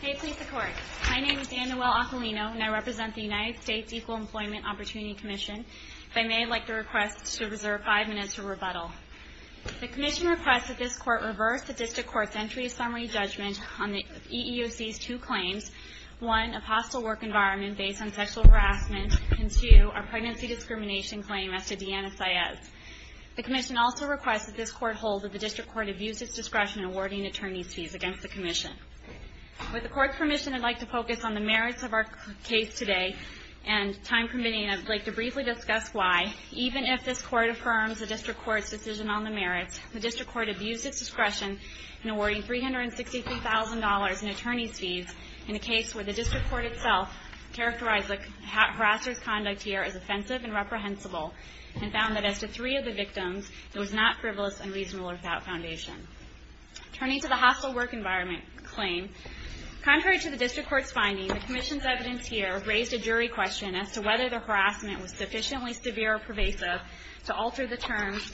Hey Police Department, my name is Danielle Aquilino and I represent the United States Equal Employment Opportunity Commission. If I may, I'd like to request that you reserve five minutes for rebuttal. The Commission requests that this Court reverse the District Court's Entry Summary Judgment on the EEOC's two claims, one, a hostile work environment based on sexual harassment, and two, a pregnancy discrimination claim as to Deanna Saez. The Commission also requests that this Court hold that the District Court abuse its discretion in awarding attorney's fees against the Commission. With the Court's permission, I'd like to focus on the merits of our case today and, time permitting, I'd like to briefly discuss why, even if this Court affirms the District Court's decision on the merits, the District Court abused its discretion in awarding $363,000 in attorney's fees in a case where the District Court itself characterized the harasser's conduct here as offensive and reprehensible and found that as to three of the victims, it was not frivolous and reasonable without foundation. Turning to the hostile work environment claim, contrary to the District Court's finding, the Commission's evidence here raised a jury question as to whether the harassment was sufficiently severe or pervasive to alter the terms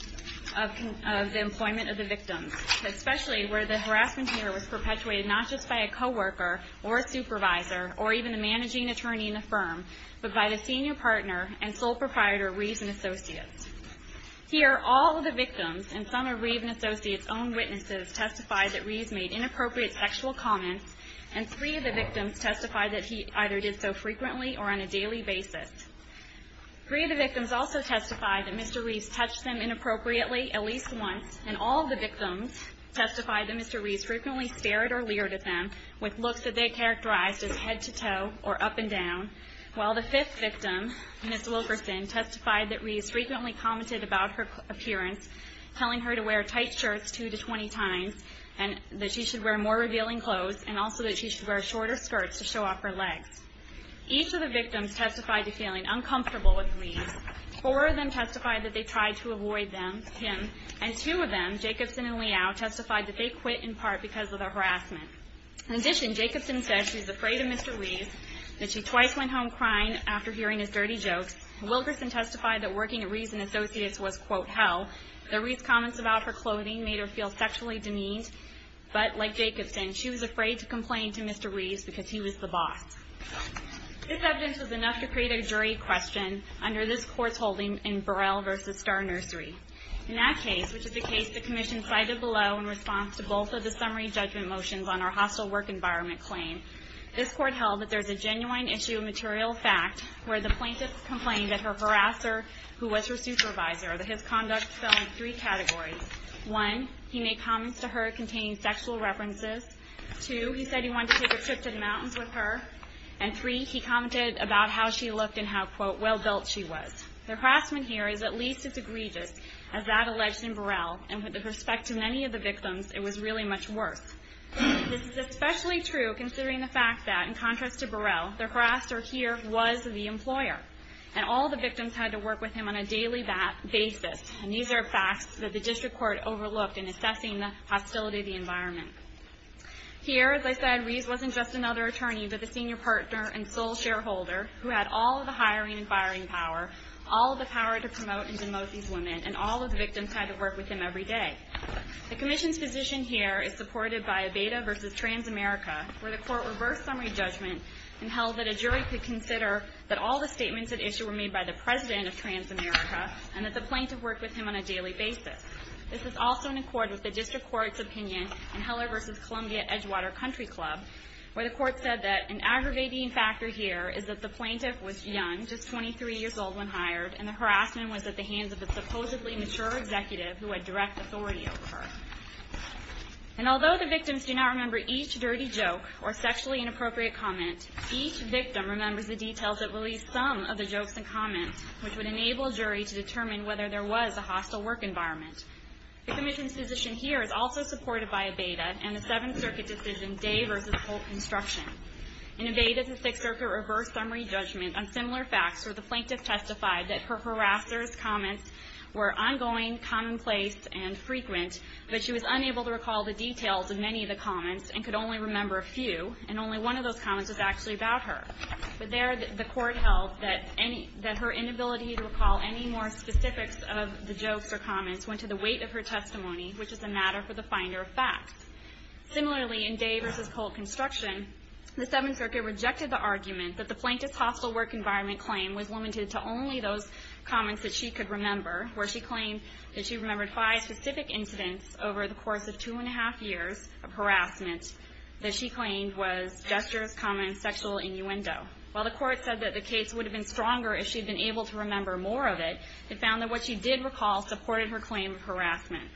of the employment of the victims, especially where the harassment here was perpetuated not just by a co-worker or a supervisor or even the managing attorney in the firm, but by the senior partner and sole proprietor, Reeves & Associates. Here, all of the victims and some of Reeves & Associates' own witnesses testified that Reeves made inappropriate sexual comments and three of the victims testified that he either did so frequently or on a daily basis. Three of the victims also testified that Mr. Reeves touched them inappropriately at least once and all of the victims testified that Mr. Reeves frequently stared or leered at them with looks that they characterized as head-to-toe or up-and-down, while the fifth victim, Ms. Wilkerson, testified that Reeves frequently commented about her appearance, telling her to wear tight shirts two to twenty times and that she should wear more revealing clothes and also that she should wear shorter skirts to show off her legs. Each of the victims testified to feeling uncomfortable with Reeves. Four of them testified that they tried to avoid him, and two of them, Jacobson and Liao, testified that they quit in part because of the harassment. In addition, Jacobson said she was afraid of Mr. Reeves, that she twice went home crying after hearing his dirty jokes. Wilkerson testified that working at Reeves & Associates was, quote, hell, that Reeves' comments about her clothing made her feel sexually demeaned, but, like Jacobson, she was afraid to complain to Mr. Reeves because he was the boss. This evidence was enough to create a jury question under this Court's holding in Burrell v. Star Nursery. In that case, which is the case the Commission cited below in response to both of the summary judgment motions on our hostile work environment claim, this Court held that there is a genuine issue of material fact where the plaintiff complained that her harasser, who was her supervisor, that his conduct fell into three categories. One, he made comments to her containing sexual references. Two, he said he wanted to take a trip to the mountains with her. And three, he commented about how she looked and how, quote, well built she was. The harassment here is at least as egregious as that alleged in Burrell, and with respect to many of the victims, it was really much worse. This is especially true considering the fact that, in contrast to Burrell, the harasser here was the employer, and all the victims had to work with him on a daily basis. And these are facts that the District Court overlooked in assessing the hostility of the environment. Here, as I said, Ries wasn't just another attorney, but the senior partner and sole shareholder who had all of the hiring and firing power, all of the power to promote and demote these women, and all of the victims had to work with him every day. The Commission's position here is supported by a Beda v. Transamerica, where the Court reversed summary judgment and held that a jury could consider that all the statements at issue were made by the President of Transamerica and that the plaintiff worked with him on a daily basis. This is also in accord with the District Court's opinion in Heller v. Columbia-Edgewater Country Club, where the Court said that an aggravating factor here is that the plaintiff was young, just 23 years old when hired, and the harassment was at the hands of a supposedly mature executive who had direct authority over her. And although the victims do not remember each dirty joke or sexually inappropriate comment, each victim remembers the details that released some of the jokes and comments, which would enable a jury to determine whether there was a hostile work environment. The Commission's position here is also supported by a Beda and the Seventh Circuit decision Day v. Polk Construction. In a Beda, the Sixth Circuit reversed summary judgment on similar facts where the plaintiff testified that her harassers' comments were ongoing, commonplace, and frequent, but she was unable to recall the details of many of the comments and could only remember a few, and only one of those comments was actually about her. But there the Court held that her inability to recall any more specifics of the jokes or comments went to the weight of her testimony, which is a matter for the finder of facts. Similarly, in Day v. Polk Construction, the Seventh Circuit rejected the argument that the plaintiff's hostile work environment claim was limited to only those comments that she could remember, where she claimed that she remembered five specific incidents that she claimed was gestures, comments, sexual innuendo. While the Court said that the case would have been stronger if she had been able to remember more of it, it found that what she did recall supported her claim of harassment.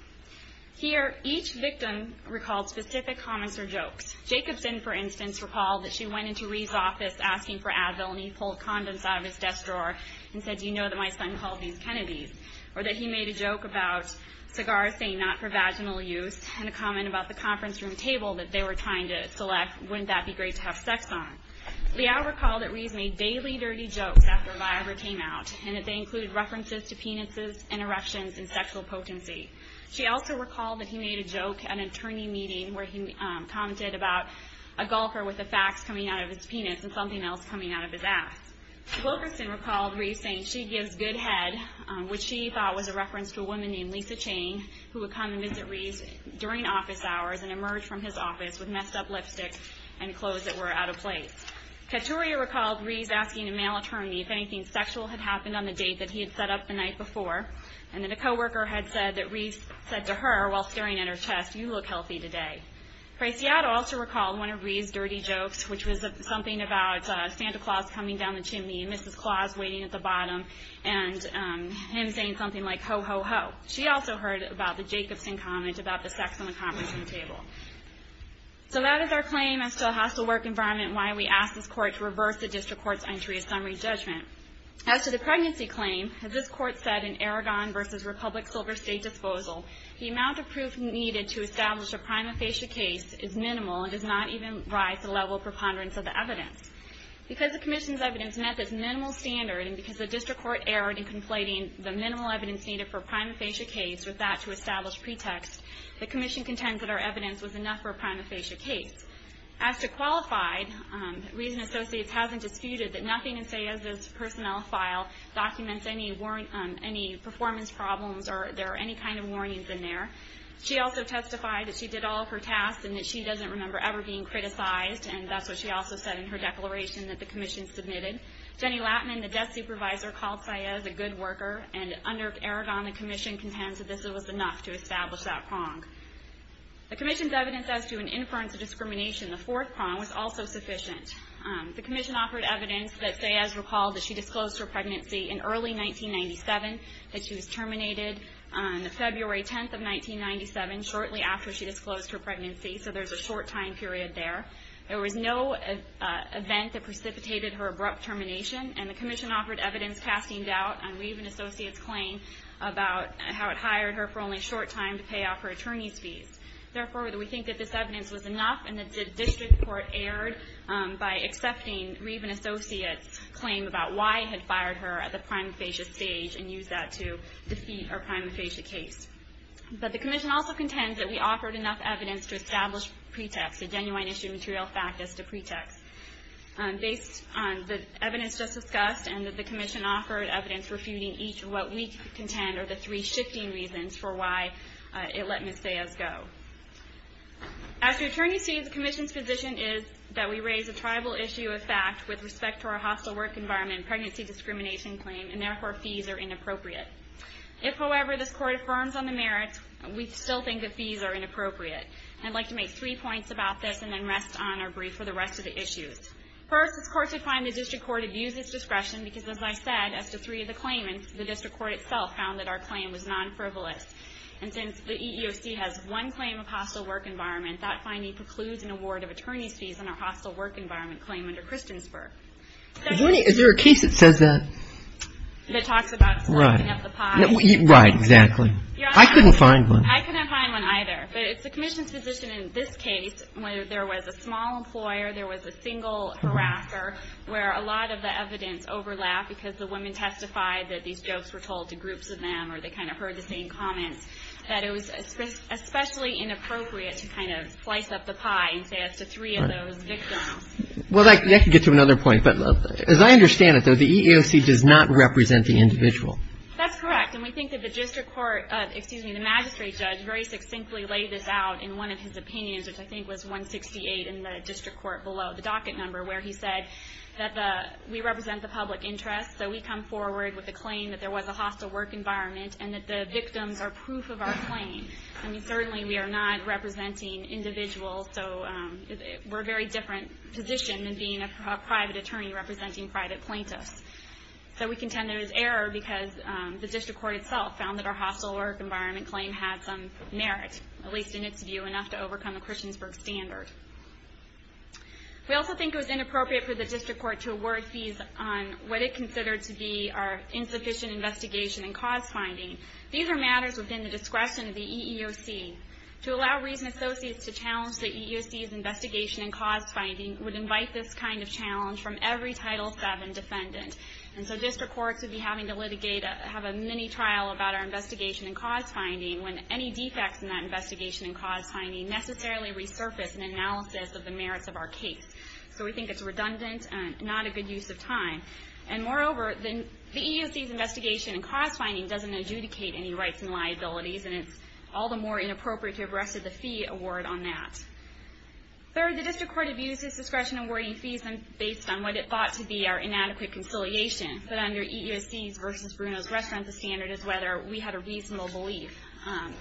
Here, each victim recalled specific comments or jokes. Jacobson, for instance, recalled that she went into Reeves' office asking for Advil and he pulled condoms out of his desk drawer and said, Do you know that my son calls these Kennedy's? Or that he made a joke about cigars saying not for vaginal use and a comment about the conference room table that they were trying to select, wouldn't that be great to have sex on? Liao recalled that Reeves made daily dirty jokes after Viagra came out and that they included references to penises, interruptions, and sexual potency. She also recalled that he made a joke at an attorney meeting where he commented about a golfer with a fax coming out of his penis and something else coming out of his ass. Wilkerson recalled Reeves saying she gives good head, which she thought was a reference to a woman named Lisa Chang who would come and visit Reeves during office hours and emerge from his office with messed up lipstick and clothes that were out of place. Caturia recalled Reeves asking a male attorney if anything sexual had happened on the date that he had set up the night before and that a co-worker had said that Reeves said to her while staring at her chest, You look healthy today. Preciado also recalled one of Reeves' dirty jokes, which was something about Santa Claus coming down the chimney and Mrs. Claus waiting at the bottom and him saying something like, Ho, ho, ho. She also heard about the Jacobson comment about the sex on the conferencing table. So that is our claim as to a hostile work environment and why we ask this Court to reverse the District Court's entry of summary judgment. As to the pregnancy claim, as this Court said in Aragon v. Republic Silver State Disposal, the amount of proof needed to establish a prima facie case is minimal and does not even rise to the level of preponderance of the evidence. Because the Commission's evidence met this minimal standard and because the District Court erred in conflating the minimal evidence needed for a prima facie case with that to establish pretext, the Commission contends that our evidence was enough for a prima facie case. As to qualified, Reeves and Associates hasn't disputed that nothing in Sayez's personnel file documents any performance problems or there are any kind of warnings in there. She also testified that she did all of her tasks and that she doesn't remember ever being criticized, and that's what she also said in her declaration that the Commission submitted. Jenny Lattman, the death supervisor, called Sayez a good worker and under Aragon the Commission contends that this was enough to establish that prong. The Commission's evidence as to an inference of discrimination, the fourth prong, was also sufficient. The Commission offered evidence that Sayez recalled that she disclosed her pregnancy in early 1997, that she was terminated on February 10, 1997, shortly after she disclosed her pregnancy, so there's a short time period there. There was no event that precipitated her abrupt termination, and the Commission offered evidence casting doubt on Reeves and Associates' claim about how it hired her for only a short time to pay off her attorney's fees. Therefore, we think that this evidence was enough and that the district court erred by accepting Reeves and Associates' claim about why it had fired her at the prima facie stage and used that to defeat her prima facie case. But the Commission also contends that we offered enough evidence to establish pretext, a genuine issue of material fact as to pretext. Based on the evidence just discussed and that the Commission offered evidence refuting each of what we contend are the three shifting reasons for why it let Ms. Sayez go. As for attorney's fees, the Commission's position is that we raise a tribal issue of fact with respect to our hostile work environment and pregnancy discrimination claim, and therefore fees are inappropriate. If, however, this court affirms on the merits, we still think that fees are inappropriate. I'd like to make three points about this and then rest on our brief for the rest of the issues. First, this court should find the district court abuses discretion because, as I said, as to three of the claimants, the district court itself found that our claim was non-frivolous. And since the EEOC has one claim of hostile work environment, that finding precludes an award of attorney's fees on our hostile work environment claim under Christiansburg. Is there a case that says that? That talks about sloughing up the pie. Right, exactly. I couldn't find one. I couldn't find one either, but it's the Commission's position in this case where there was a small employer, there was a single harasser, where a lot of the evidence overlapped because the women testified that these jokes were told to groups of them or they kind of heard the same comments, that it was especially inappropriate to kind of slice up the pie and say as to three of those victims. Well, that could get to another point, but as I understand it, though, the EEOC does not represent the individual. That's correct. And we think that the magistrate judge very succinctly laid this out in one of his opinions, which I think was 168 in the district court below, the docket number, where he said that we represent the public interest, so we come forward with a claim that there was a hostile work environment and that the victims are proof of our claim. I mean, certainly we are not representing individuals, so we're a very different position than being a private attorney representing private plaintiffs. So we contend there was error because the district court itself found that our hostile work environment claim had some merit, at least in its view, enough to overcome the Christiansburg standard. We also think it was inappropriate for the district court to award fees on what it considered to be our insufficient investigation and cause finding. These are matters within the discretion of the EEOC. To allow reason associates to challenge the EEOC's investigation and cause finding would invite this kind of challenge from every Title VII defendant. And so district courts would be having to litigate, have a mini-trial about our investigation and cause finding when any defects in that investigation and cause finding necessarily resurface in analysis of the merits of our case. So we think it's redundant and not a good use of time. And moreover, the EEOC's investigation and cause finding doesn't adjudicate any rights and liabilities, and it's all the more inappropriate to have rested the fee award on that. Third, the district court abused its discretion in awarding fees based on what it thought to be our inadequate conciliation. But under EEOC's versus Bruno's reference standard is whether we had a reasonable belief.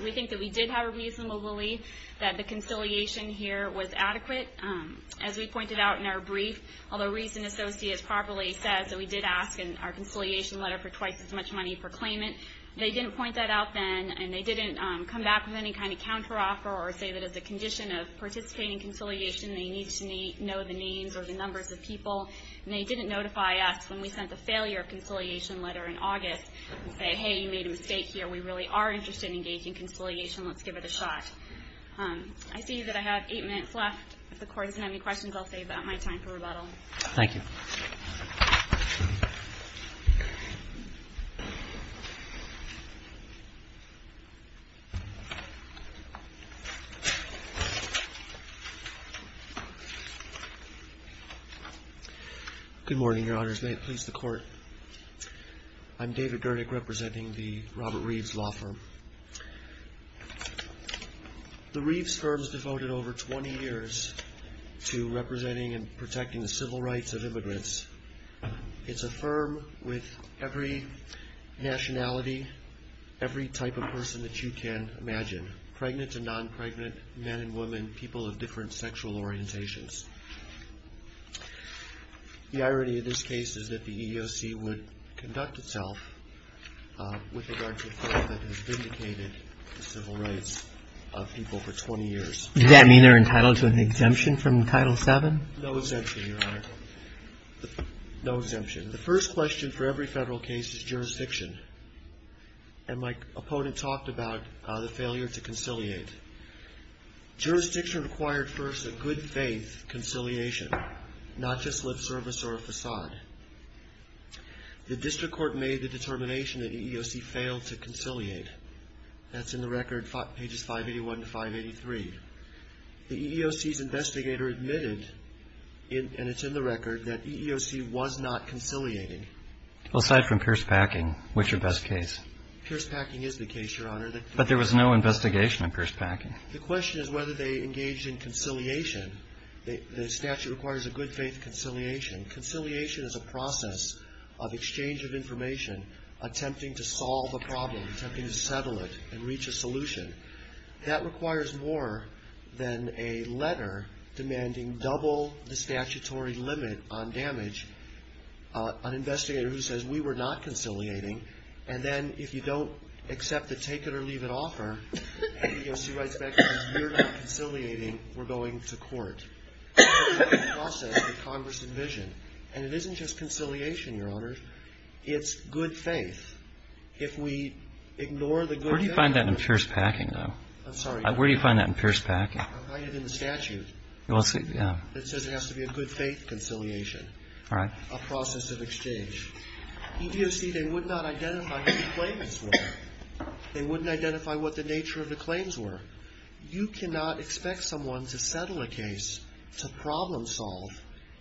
We think that we did have a reasonable belief that the conciliation here was adequate. As we pointed out in our brief, although reason associates properly said that we did ask in our conciliation letter for twice as much money for claimant, they didn't point that out then, and they didn't come back with any kind of counteroffer or say that as a condition of participating in conciliation, they need to know the names or the numbers of people. And they didn't notify us when we sent the failure of conciliation letter in August and say, hey, you made a mistake here. We really are interested in engaging in conciliation. Let's give it a shot. I see that I have eight minutes left. I'll save that my time for rebuttal. Thank you. Good morning, Your Honors. May it please the Court. I'm David Gernick, representing the Robert Reeves Law Firm. The Reeves Firm is devoted over 20 years to representing and protecting the civil rights of immigrants. It's a firm with every nationality, every type of person that you can imagine, pregnant and non-pregnant, men and women, people of different sexual orientations. The irony of this case is that the EEOC would conduct itself with regard to a firm that has vindicated the civil rights of people for 20 years. Does that mean they're entitled to an exemption from Title VII? No exemption, Your Honor. No exemption. The first question for every federal case is jurisdiction. And my opponent talked about the failure to conciliate. Jurisdiction required first a good-faith conciliation, not just lip service or a facade. The District Court made the determination that the EEOC failed to conciliate. That's in the record, pages 581 to 583. The EEOC's investigator admitted, and it's in the record, that EEOC was not conciliating. Aside from Pierce-Packing, which is your best case? Pierce-Packing is the case, Your Honor. But there was no investigation of Pierce-Packing. The question is whether they engaged in conciliation. The statute requires a good-faith conciliation. Conciliation is a process of exchange of information, attempting to solve a problem, attempting to settle it and reach a solution. That requires more than a letter demanding double the statutory limit on damage, an investigator who says, we were not conciliating, and then if you don't accept the take-it-or-leave-it offer, the EEOC writes back and says, we're not conciliating, we're going to court. That's the process that Congress envisioned. And it isn't just conciliation, Your Honor. It's good faith. If we ignore the good faith... Where do you find that in Pierce-Packing? I find it in the statute. It says it has to be a good-faith conciliation, a process of exchange. EEOC, they would not identify who the claimants were. They wouldn't identify what the nature of the claims were. You cannot expect someone to settle a case, to problem-solve,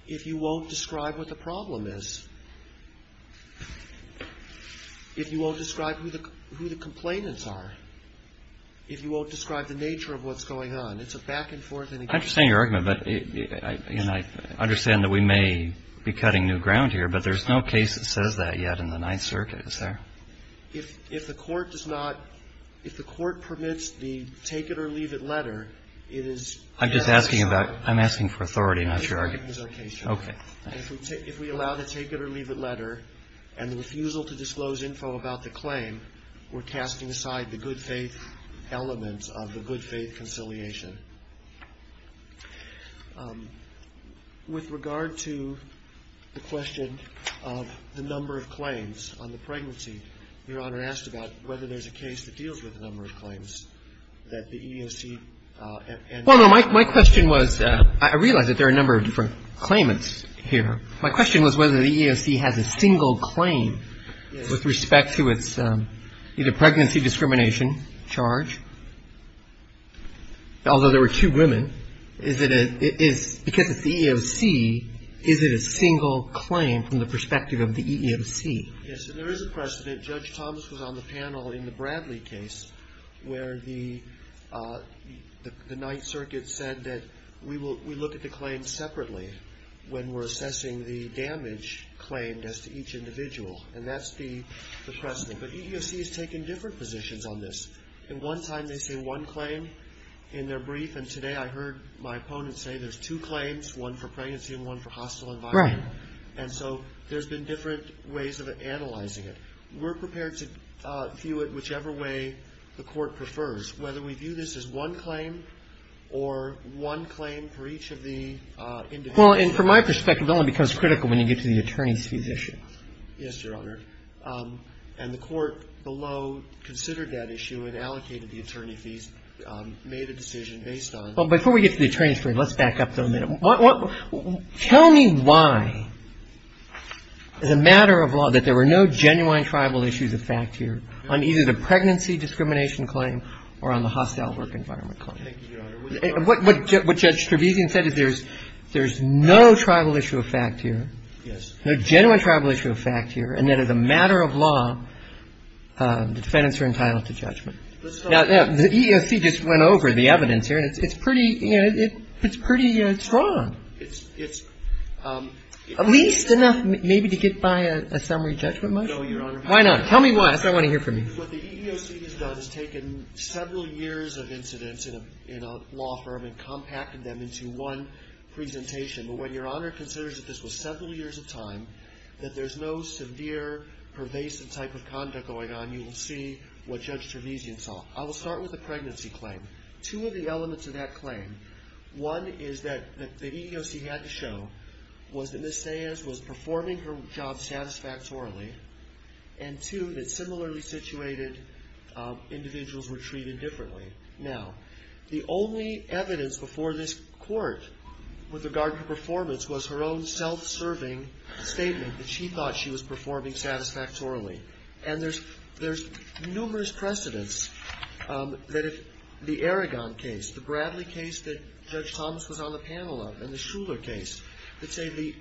if you won't describe what the problem is, if you won't describe who the complainants are, if you won't describe the nature of what's going on. It's a back-and-forth... I understand your argument, but I understand that we may be cutting new ground here, but there's no case that says that yet in the Ninth Circuit. Is there? If the court does not, if the court permits the take-it-or-leave-it letter, it is... I'm just asking about, I'm asking for authority, not your argument. Okay. If we allow the take-it-or-leave-it letter, and the refusal to disclose info about the claim, we're casting aside the good-faith element of the good-faith conciliation. With regard to the question of the number of claims on the pregnancy, Your Honor asked about whether there's a case that deals with the number of claims that the EEOC... Well, no. My question was, I realize that there are a number of different claimants here. My question was whether the EEOC has a single claim... Yes. ...with respect to its either pregnancy discrimination charge, although there were two women. Is it a... Because it's the EEOC, is it a single claim from the perspective of the EEOC? Yes, and there is a precedent. Judge Thomas was on the panel in the Bradley case where the Ninth Circuit said that we look at the claims separately when we're assessing the damage claimed as to each individual, and that's the precedent. But EEOC has taken different positions on this. And one time they say one claim in their brief, and today I heard my opponent say there's two claims, one for pregnancy and one for hostile environment. Right. And so there's been different ways of analyzing it. We're prepared to view it whichever way the Court prefers, whether we view this as one claim or one claim for each of the individuals. Well, and from my perspective, it only becomes critical when you get to the attorney's fees issue. Yes, Your Honor. And the Court below considered that issue and allocated the attorney fees, made a decision based on... Well, before we get to the attorney's fees, let's back up a minute. Tell me why, as a matter of law, that there were no genuine tribal issues of fact here on either the pregnancy discrimination claim or on the hostile work environment claim. Thank you, Your Honor. What Judge Trevisan said is there's no tribal issue of fact here. Yes. No genuine tribal issue of fact here, and that as a matter of law the defendants are entitled to judgment. Now, the EEOC just went over the evidence here, and it's pretty strong, at least enough maybe to get by a summary judgment motion. No, Your Honor. Why not? Tell me why. I want to hear from you. What the EEOC has done is taken several years of incidents in a law firm and compacted them into one presentation. But when Your Honor considers that this was several years of time, that there's no severe pervasive type of conduct going on, you will see what Judge Trevisan saw. I will start with the pregnancy claim. Two of the elements of that claim, one is that the EEOC had to show was that Ms. Saez was performing her job satisfactorily, and two, that similarly situated individuals were treated differently. Now, the only evidence before this court with regard to performance was her own self-serving statement that she thought she was performing satisfactorily. And there's numerous precedents that if the Aragon case, the Bradley case that Judge Thomas was on the panel of, and the Shuler case, that say the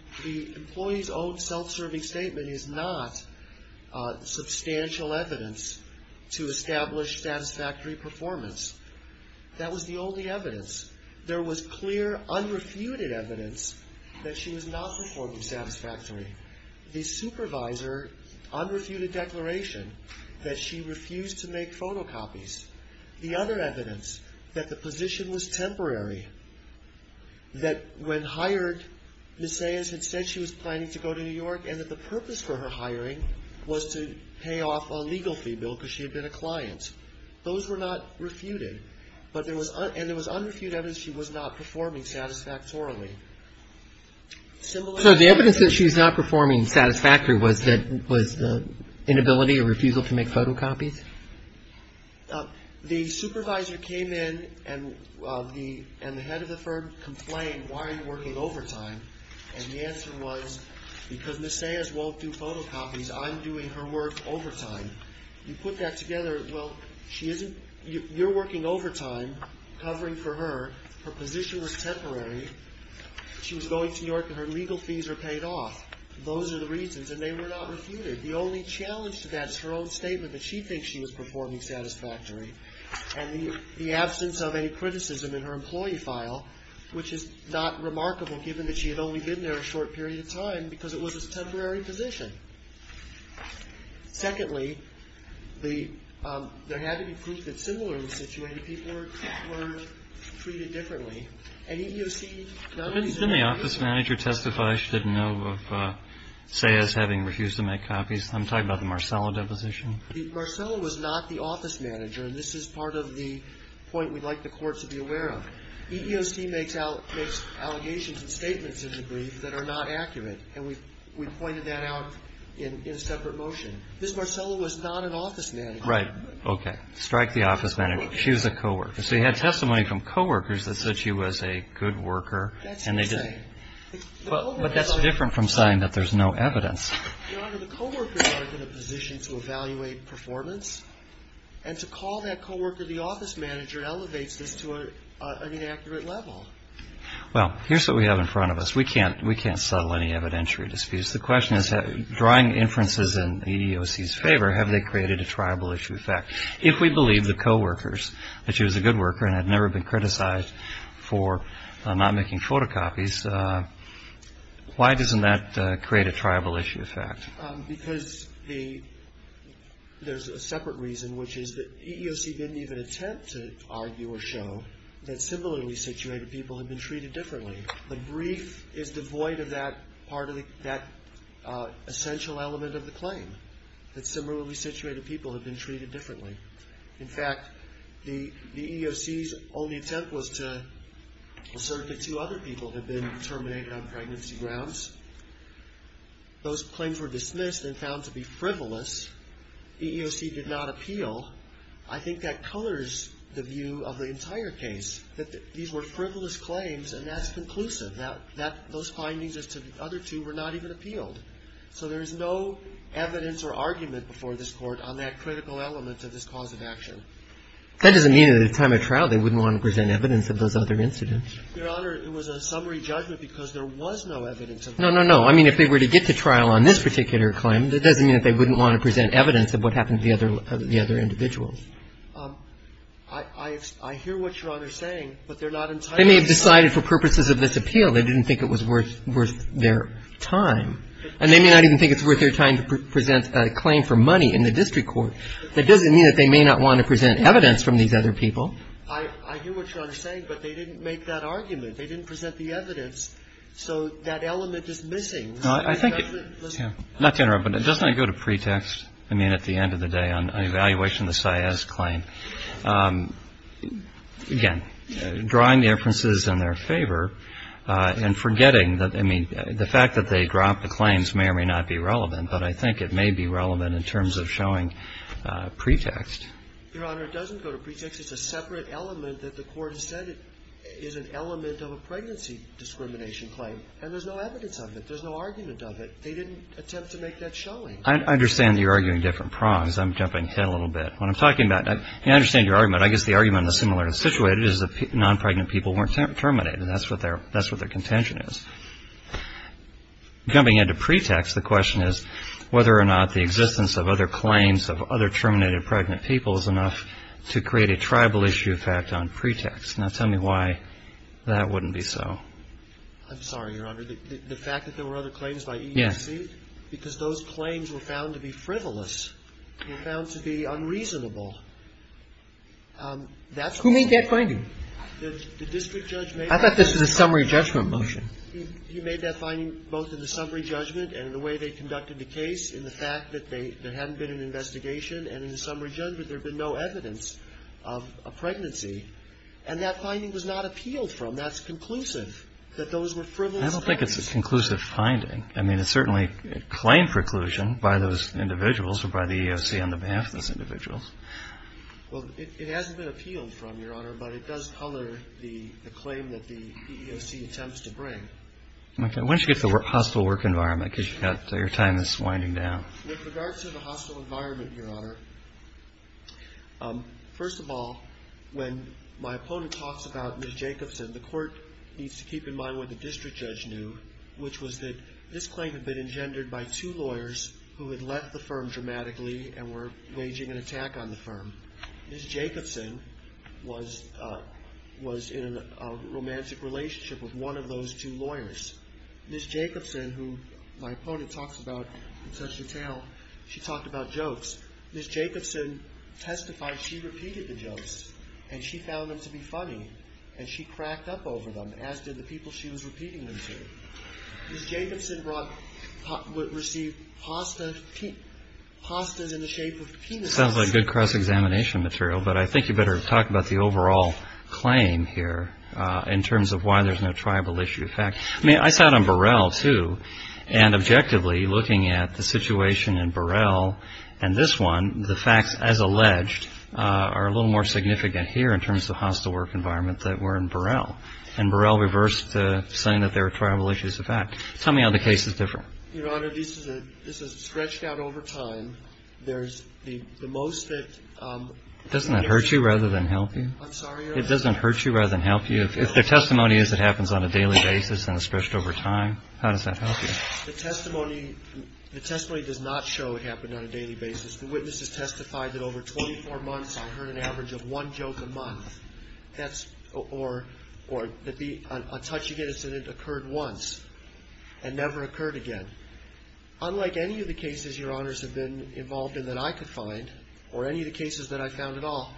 employee's own self-serving statement is not substantial evidence to establish satisfactory performance. That was the only evidence. There was clear unrefuted evidence that she was not performing satisfactorily. The supervisor unrefuted declaration that she refused to make photocopies. The other evidence that the position was temporary, that when hired, Ms. Saez had said she was planning to go to New York and that the purpose for her hiring was to pay off a legal fee bill because she had been a client. Those were not refuted. And there was unrefuted evidence she was not performing satisfactorily. So the evidence that she was not performing satisfactorily was the inability or refusal to make photocopies? The supervisor came in and the head of the firm complained, why are you working overtime? And the answer was, because Ms. Saez won't do photocopies, I'm doing her work overtime. You put that together, well, you're working overtime covering for her. Her position was temporary. She was going to New York and her legal fees were paid off. Those are the reasons, and they were not refuted. The only challenge to that is her own statement that she thinks she was performing satisfactorily, and the absence of any criticism in her employee file, which is not remarkable given that she had only been there a short period of time because it was a temporary position. Secondly, there had to be proof that similarly situated people were treated differently, and EEOC not only said that. Didn't the office manager testify she didn't know of Saez having refused to make copies? I'm talking about the Marcello deposition. Marcello was not the office manager, and this is part of the point we'd like the Court to be aware of. EEOC makes allegations and statements in the brief that are not accurate, and we pointed that out in a separate motion. Ms. Marcello was not an office manager. Okay. Strike the office manager. She was a co-worker. So you had testimony from co-workers that said she was a good worker. That's insane. But that's different from saying that there's no evidence. Your Honor, the co-workers aren't in a position to evaluate performance, and to call that co-worker the office manager elevates this to an inaccurate level. Well, here's what we have in front of us. We can't settle any evidentiary disputes. The question is, drawing inferences in EEOC's favor, have they created a tribal issue? In fact, if we believe the co-workers that she was a good worker and had never been criticized for not making photocopies, why doesn't that create a tribal issue effect? Because there's a separate reason, which is that EEOC didn't even attempt to argue or show that similarly situated people had been treated differently. The brief is devoid of that essential element of the claim, that similarly situated people had been treated differently. In fact, the EEOC's only attempt was to assert that two other people had been terminated on pregnancy grounds. Those claims were dismissed and found to be frivolous. EEOC did not appeal. I think that colors the view of the entire case, that these were frivolous claims, and that's conclusive. Those findings as to the other two were not even appealed. So there's no evidence or argument before this Court on that critical element of this cause of action. That doesn't mean at the time of trial they wouldn't want to present evidence of those other incidents. Your Honor, it was a summary judgment because there was no evidence of that. No, no, no. I mean, if they were to get to trial on this particular claim, that doesn't mean that they wouldn't want to present evidence of what happened to the other individuals. I hear what Your Honor is saying, but they're not entirely sure. They may have decided for purposes of this appeal. They didn't think it was worth their time. And they may not even think it's worth their time to present a claim for money in the district court. That doesn't mean that they may not want to present evidence from these other people. I hear what Your Honor is saying, but they didn't make that argument. They didn't present the evidence. So that element is missing. I think it doesn't go to pretext, I mean, at the end of the day on an evaluation of the Sias claim. The fact that they dropped the claims may or may not be relevant, but I think it may be relevant in terms of showing pretext. Your Honor, it doesn't go to pretext. It's a separate element that the Court has said is an element of a pregnancy discrimination claim. And there's no evidence of it. There's no argument of it. They didn't attempt to make that showing. I understand that you're arguing different prongs. I'm jumping ahead a little bit. What I'm talking about, and I understand your argument. I guess the argument is similar to the situation, is that non-pregnant people weren't terminated. That's what their contention is. Jumping into pretext, the question is whether or not the existence of other claims of other terminated pregnant people is enough to create a tribal issue effect on pretext. Now, tell me why that wouldn't be so. I'm sorry, Your Honor. The fact that there were other claims by EEC? Yes. Because those claims were found to be frivolous. They were found to be unreasonable. Who made that finding? The district judge made it. I thought this was a summary judgment motion. He made that finding both in the summary judgment and in the way they conducted the case, in the fact that there hadn't been an investigation. And in the summary judgment, there had been no evidence of a pregnancy. And that finding was not appealed from. That's conclusive, that those were frivolous claims. I don't think it's a conclusive finding. I mean, it's certainly a claim preclusion by those individuals or by the EEOC on the behalf of those individuals. Well, it hasn't been appealed from, Your Honor, but it does color the claim that the EEOC attempts to bring. Okay. Why don't you get to the hostile work environment, because your time is winding down. With regard to the hostile environment, Your Honor, first of all, when my opponent talks about Ms. Jacobson, the court needs to keep in mind what the district judge knew, which was that this claim had been engendered by two lawyers who had left the firm dramatically and were waging an attack on the firm. Ms. Jacobson was in a romantic relationship with one of those two lawyers. Ms. Jacobson, who my opponent talks about in such detail, she talked about jokes. Ms. Jacobson testified she repeated the jokes, and she found them to be funny, and she cracked up over them, as did the people she was repeating them to. Ms. Jacobson received hostas in the shape of penises. Sounds like good cross-examination material, but I think you better talk about the overall claim here in terms of why there's no tribal issue. I mean, I sat on Burrell, too, and objectively, looking at the situation in Burrell and this one, the facts, as alleged, are a little more significant here in terms of hostile work environment than were in Burrell. And Burrell reversed saying that there are tribal issues of fact. Tell me how the case is different. Your Honor, this is stretched out over time. There's the most that – Doesn't that hurt you rather than help you? I'm sorry, Your Honor? It doesn't hurt you rather than help you? If the testimony is it happens on a daily basis and is stretched over time, how does that help you? The testimony does not show it happened on a daily basis. The witnesses testified that over 24 months, I heard an average of one joke a month. Or a touching incident occurred once and never occurred again. Unlike any of the cases, Your Honors, have been involved in that I could find, or any of the cases that I found at all,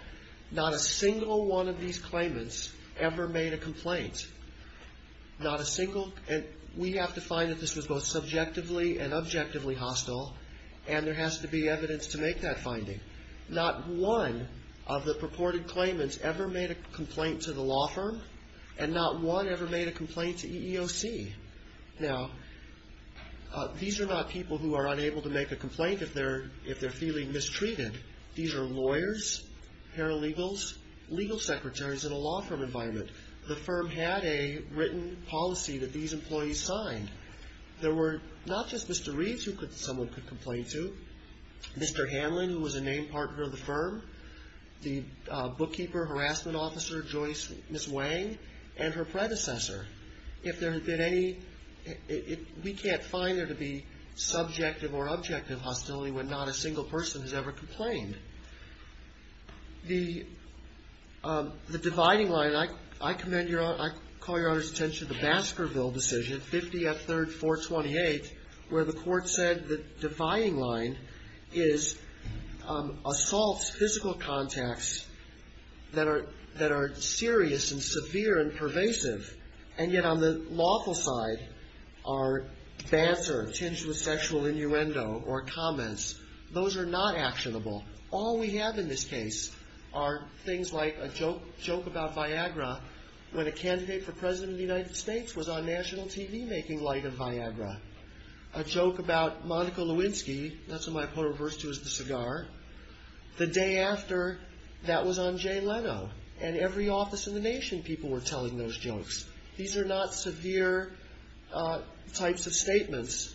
not a single one of these claimants ever made a complaint. Not a single – and we have to find that this was both subjectively and objectively hostile, and there has to be evidence to make that finding. Not one of the purported claimants ever made a complaint to the law firm, and not one ever made a complaint to EEOC. Now, these are not people who are unable to make a complaint if they're feeling mistreated. These are lawyers, paralegals, legal secretaries in a law firm environment. The firm had a written policy that these employees signed. There were not just Mr. Reeves who someone could complain to, Mr. Hanlon, who was a named partner of the firm, the bookkeeper, harassment officer, Joyce Ms. Wang, and her predecessor. If there had been any – we can't find there to be subjective or objective hostility when not a single person has ever complained. The dividing line, I commend Your Honor – I call Your Honor's attention to the Baskerville decision, 50 F. 3rd 428, where the court said the dividing line is assaults, physical contacts that are serious and severe and pervasive, and yet on the lawful side are banter, tinged with sexual innuendo or comments. Those are not actionable. All we have in this case are things like a joke about Viagra when a candidate for President of the United States was on national TV making light of Viagra, a joke about Monica Lewinsky – that's what my opponent refers to as the cigar – the day after that was on Jay Leno, and every office in the nation people were telling those jokes. These are not severe types of statements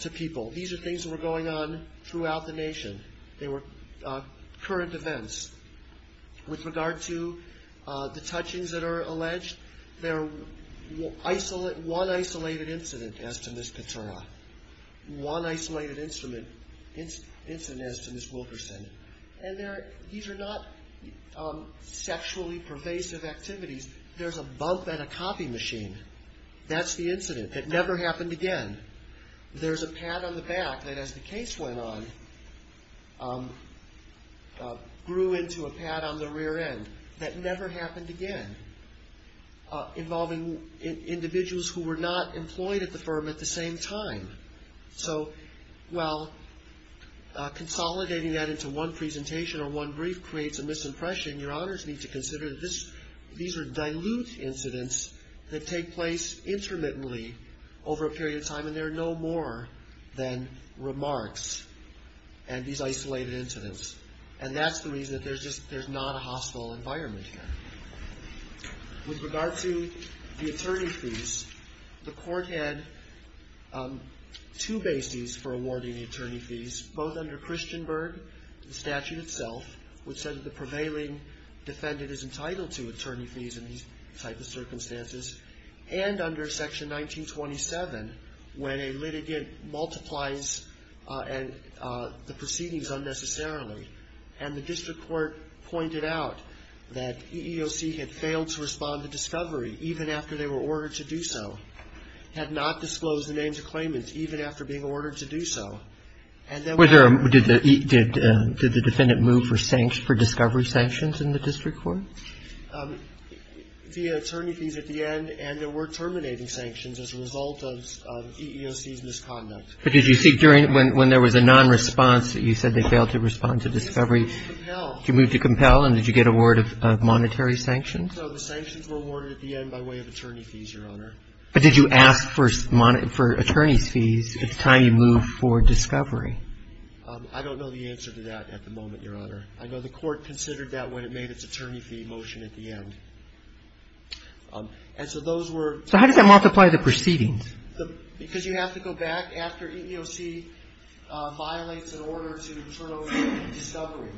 to people. These are things that were going on throughout the nation. They were current events. With regard to the touchings that are alleged, they're one isolated incident as to Ms. Katerna, one isolated incident as to Ms. Wilkerson, and these are not sexually pervasive activities. There's a bump at a coffee machine. That's the incident. It never happened again. There's a pad on the back that, as the case went on, grew into a pad on the rear end. That never happened again, involving individuals who were not employed at the firm at the same time. So, well, consolidating that into one presentation or one brief creates a misimpression. Your honors need to consider that these are dilute incidents that take place intermittently over a period of time, and they're no more than remarks and these isolated incidents, and that's the reason that there's not a hostile environment here. With regard to the attorney fees, the court had two bases for awarding the attorney fees, both under Christian Berg, the statute itself, which said that the prevailing defendant is entitled to attorney fees in these type of circumstances, and under Section 1927, when a litigant multiplies the proceedings unnecessarily, and the district court pointed out that EEOC had failed to respond to discovery even after they were ordered to do so, had not disclosed the names of claimants even after being ordered to do so, and that was the case. Did the defendant move for discovery sanctions in the district court? The attorney fees at the end, and there were terminating sanctions as a result of EEOC's misconduct. But did you see during when there was a nonresponse that you said they failed to respond to discovery? We moved to compel. You moved to compel, and did you get a word of monetary sanctions? No, the sanctions were awarded at the end by way of attorney fees, Your Honor. But did you ask for attorneys' fees at the time you moved for discovery? I don't know the answer to that at the moment, Your Honor. I know the court considered that when it made its attorney fee motion at the end. And so those were the ones that were moved. So how did that multiply the proceedings? Because you have to go back after EEOC violates an order to turn over discovery.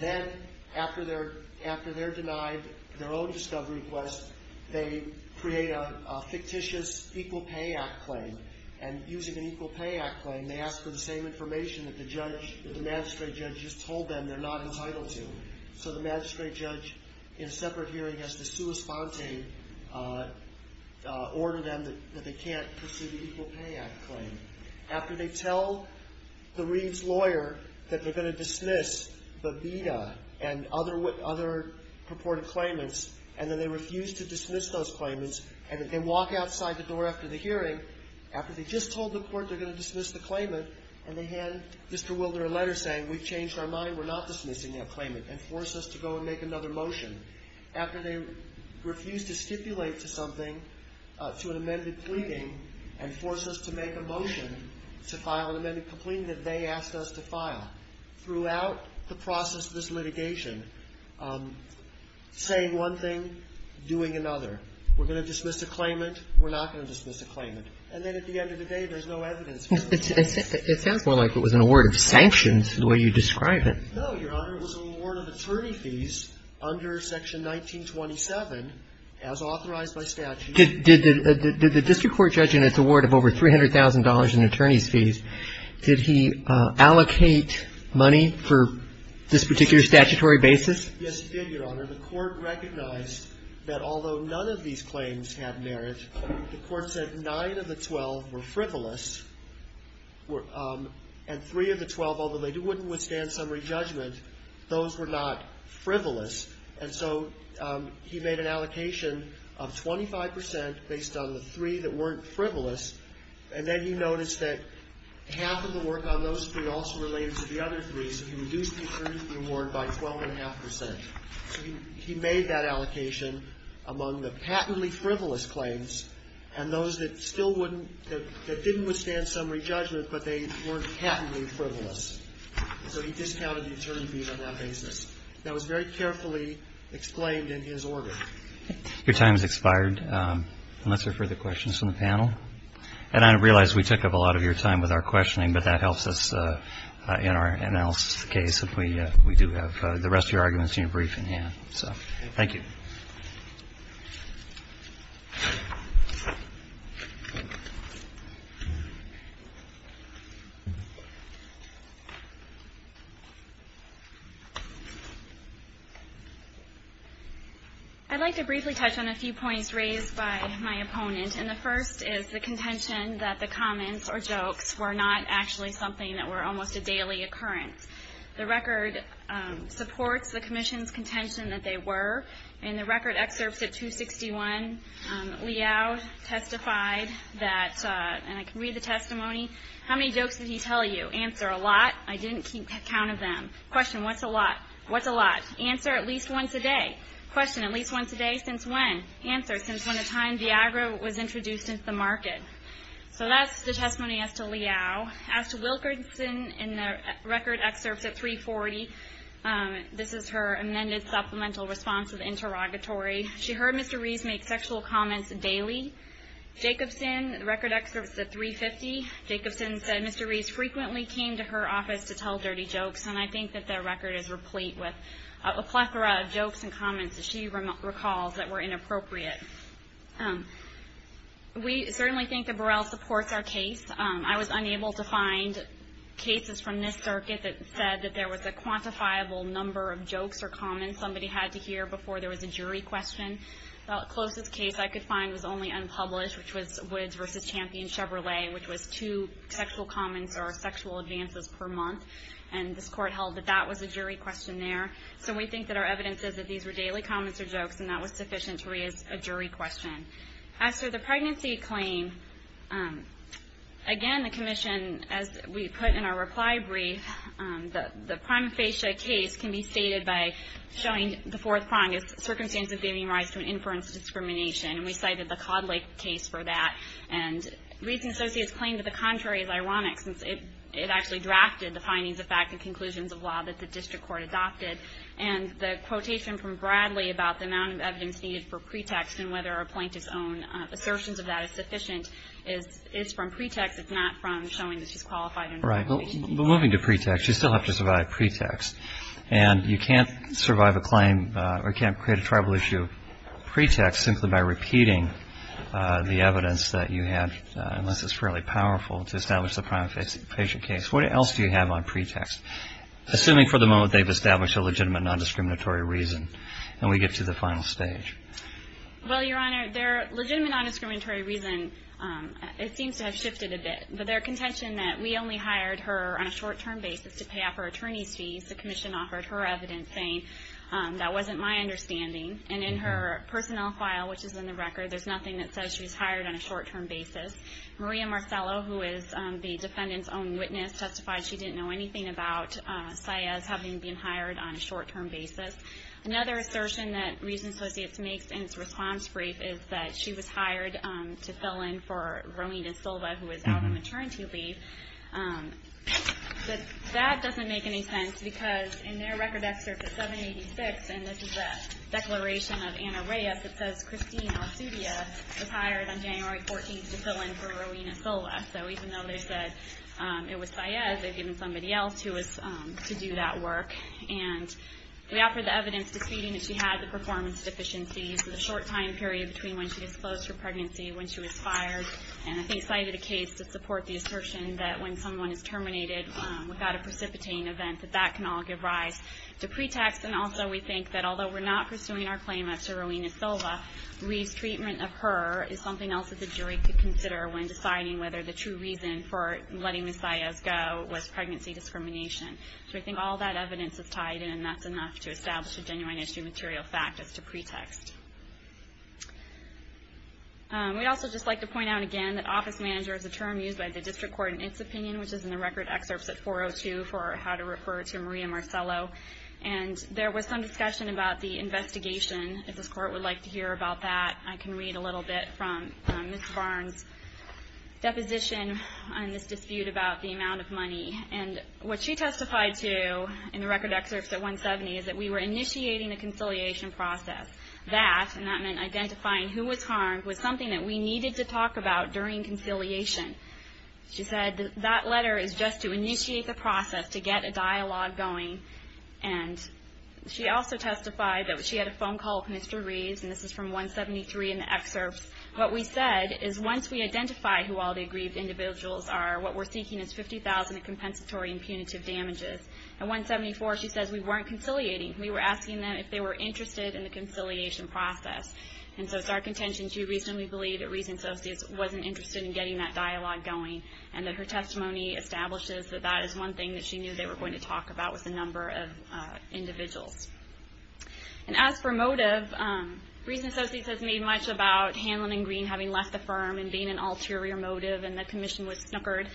Then after they're denied their own discovery request, they create a fictitious Equal Pay Act claim, and using an Equal Pay Act claim, they ask for the same information that the magistrate judge just told them they're not entitled to. So the magistrate judge in a separate hearing has to sui sponte, order them that they can't pursue the Equal Pay Act claim. After they tell the Reid's lawyer that they're going to dismiss the BIDA and other purported claimants, and then they refuse to dismiss those claimants, and they walk outside the door after the hearing, after they just told the court they're going to dismiss the claimant, and they hand Mr. Wilder a letter saying, we've changed our mind, we're not dismissing that claimant, and force us to go and make another motion. After they refuse to stipulate to something, to an amended pleading, and force us to make a motion to file an amended pleading that they asked us to file. Throughout the process of this litigation, saying one thing, doing another. We're going to dismiss a claimant. We're not going to dismiss a claimant. And then at the end of the day, there's no evidence. It sounds more like it was an award of sanctions, the way you describe it. No, Your Honor. It was an award of attorney fees under Section 1927, as authorized by statute. Did the district court judge in its award of over $300,000 in attorney's fees, did he allocate money for this particular statutory basis? Yes, he did, Your Honor. The court recognized that although none of these claims had merit, the court said nine of the 12 were frivolous, and three of the 12, although they wouldn't withstand summary judgment, those were not frivolous. And so he made an allocation of 25% based on the three that weren't frivolous, and then he noticed that half of the work on those three also related to the other three, so he reduced the attorney's reward by 12.5%. So he made that allocation among the patently frivolous claims and those that didn't withstand summary judgment, but they weren't patently frivolous. So he discounted the attorney fees on that basis. That was very carefully explained in his order. Your time has expired unless there are further questions from the panel. And I realize we took up a lot of your time with our questioning, but that helps us in our analysis of the case. We do have the rest of your arguments in your briefing, yeah. So thank you. I'd like to briefly touch on a few points raised by my opponent, and the first is the contention that the comments or jokes were not actually something that were almost a daily occurrence. The record supports the commission's contention that they were. In the record excerpts at 261, Liao testified that, and I can read the testimony, how many jokes did he tell you? Answer, a lot. I didn't keep count of them. Question, what's a lot? What's a lot? Answer, at least once a day. Question, at least once a day since when? Answer, since when the time Viagra was introduced into the market. So that's the testimony as to Liao. As to Wilkerson in the record excerpts at 340, this is her amended supplemental response of interrogatory. She heard Mr. Rees make sexual comments daily. Jacobson, record excerpts at 350, Jacobson said Mr. Rees frequently came to her office to tell dirty jokes, and I think that their record is replete with a plethora of jokes and comments, as she recalls, that were inappropriate. We certainly think that Burrell supports our case. I was unable to find cases from this circuit that said that there was a quantifiable number of jokes or comments somebody had to hear before there was a jury question. The closest case I could find was only unpublished, which was Woods v. Champion Chevrolet, which was two sexual comments or sexual advances per month, and this court held that that was a jury question there. So we think that our evidence says that these were daily comments or jokes, and that was sufficient to raise a jury question. As to the pregnancy claim, again, the commission, as we put in our reply brief, the prima facie case can be stated by showing the fourth prong as circumstances giving rise to an inference discrimination, and we cited the Codd Lake case for that. And Rees and Associates claimed that the contrary is ironic, since it actually drafted the findings, the facts, and conclusions of law that the district court adopted. And the quotation from Bradley about the amount of evidence needed for pretext and whether a plaintiff's own assertions of that is sufficient is from pretext. It's not from showing that she's qualified. Right, but moving to pretext, you still have to survive pretext. And you can't survive a claim or you can't create a tribal issue pretext simply by repeating the evidence that you have, unless it's fairly powerful to establish the prima facie case. What else do you have on pretext, assuming for the moment they've established a legitimate non-discriminatory reason? And we get to the final stage. Well, Your Honor, their legitimate non-discriminatory reason, it seems to have shifted a bit. But their contention that we only hired her on a short-term basis to pay off her attorney's fees, the commission offered her evidence saying that wasn't my understanding. And in her personnel file, which is in the record, there's nothing that says she was hired on a short-term basis. Maria Marcello, who is the defendant's own witness, testified she didn't know anything about Saez having been hired on a short-term basis. Another assertion that Rees & Associates makes in its response brief is that she was hired to fill in for Romina Silva, who was out on maternity leave. But that doesn't make any sense, because in their record excerpt at 786, and this is a declaration of Anna Reyes that says, Christine Alasudia was hired on January 14th to fill in for Romina Silva. So even though they said it was Saez, they've given somebody else to do that work. And we offered the evidence disputing that she had the performance deficiencies for the short time period between when she disclosed her pregnancy and when she was fired. And I think Saez did a case to support the assertion that when someone is terminated without a precipitating event, that that can all give rise to pretext. And also we think that although we're not pursuing our claim up to Romina Silva, Rees' treatment of her is something else that the jury could consider when deciding whether the true reason for letting Ms. Saez go was pregnancy discrimination. So I think all that evidence is tied in, and that's enough to establish a genuine issue material fact as to pretext. We'd also just like to point out again that office manager is a term used by the district court in its opinion, which is in the record excerpts at 402 for how to refer to Maria Marcello. And there was some discussion about the investigation, if this court would like to hear about that. I can read a little bit from Ms. Barnes' deposition on this dispute about the amount of money. And what she testified to in the record excerpts at 170 is that we were initiating the conciliation process. That, and that meant identifying who was harmed, was something that we needed to talk about during conciliation. She said that letter is just to initiate the process to get a dialogue going. And she also testified that she had a phone call with Mr. Rees, and this is from 173 in the excerpts. What we said is once we identify who all the aggrieved individuals are, what we're seeking is $50,000 in compensatory and punitive damages. At 174, she says we weren't conciliating. We were asking them if they were interested in the conciliation process. And so it's our contention she recently believed that Rees & Associates wasn't interested in getting that dialogue going and that her testimony establishes that that is one thing that she knew they were going to talk about was the number of individuals. And as for motive, Rees & Associates has made much about Hanlon & Green having left the firm and being an ulterior motive and the commission was snookered.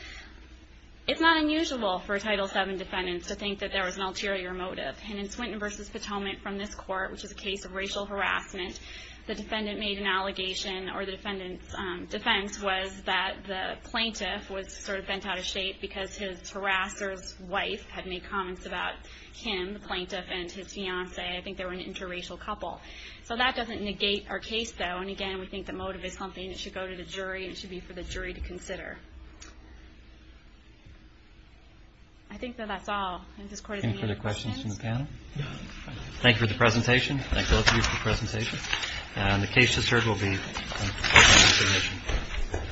It's not unusual for a Title VII defendant to think that there was an ulterior motive. And in Swinton v. Potomac from this court, which is a case of racial harassment, the defendant made an allegation or the defendant's defense was that the plaintiff was sort of bent out of shape because his harasser's wife had made comments about him, the plaintiff, and his fiance. I think they were an interracial couple. So that doesn't negate our case, though. And, again, we think that motive is something that should go to the jury. It should be for the jury to consider. I think that that's all. Any further questions from the panel? Thank you for the presentation. Thank both of you for the presentation. And the case has adjourned. We'll be closing the commission.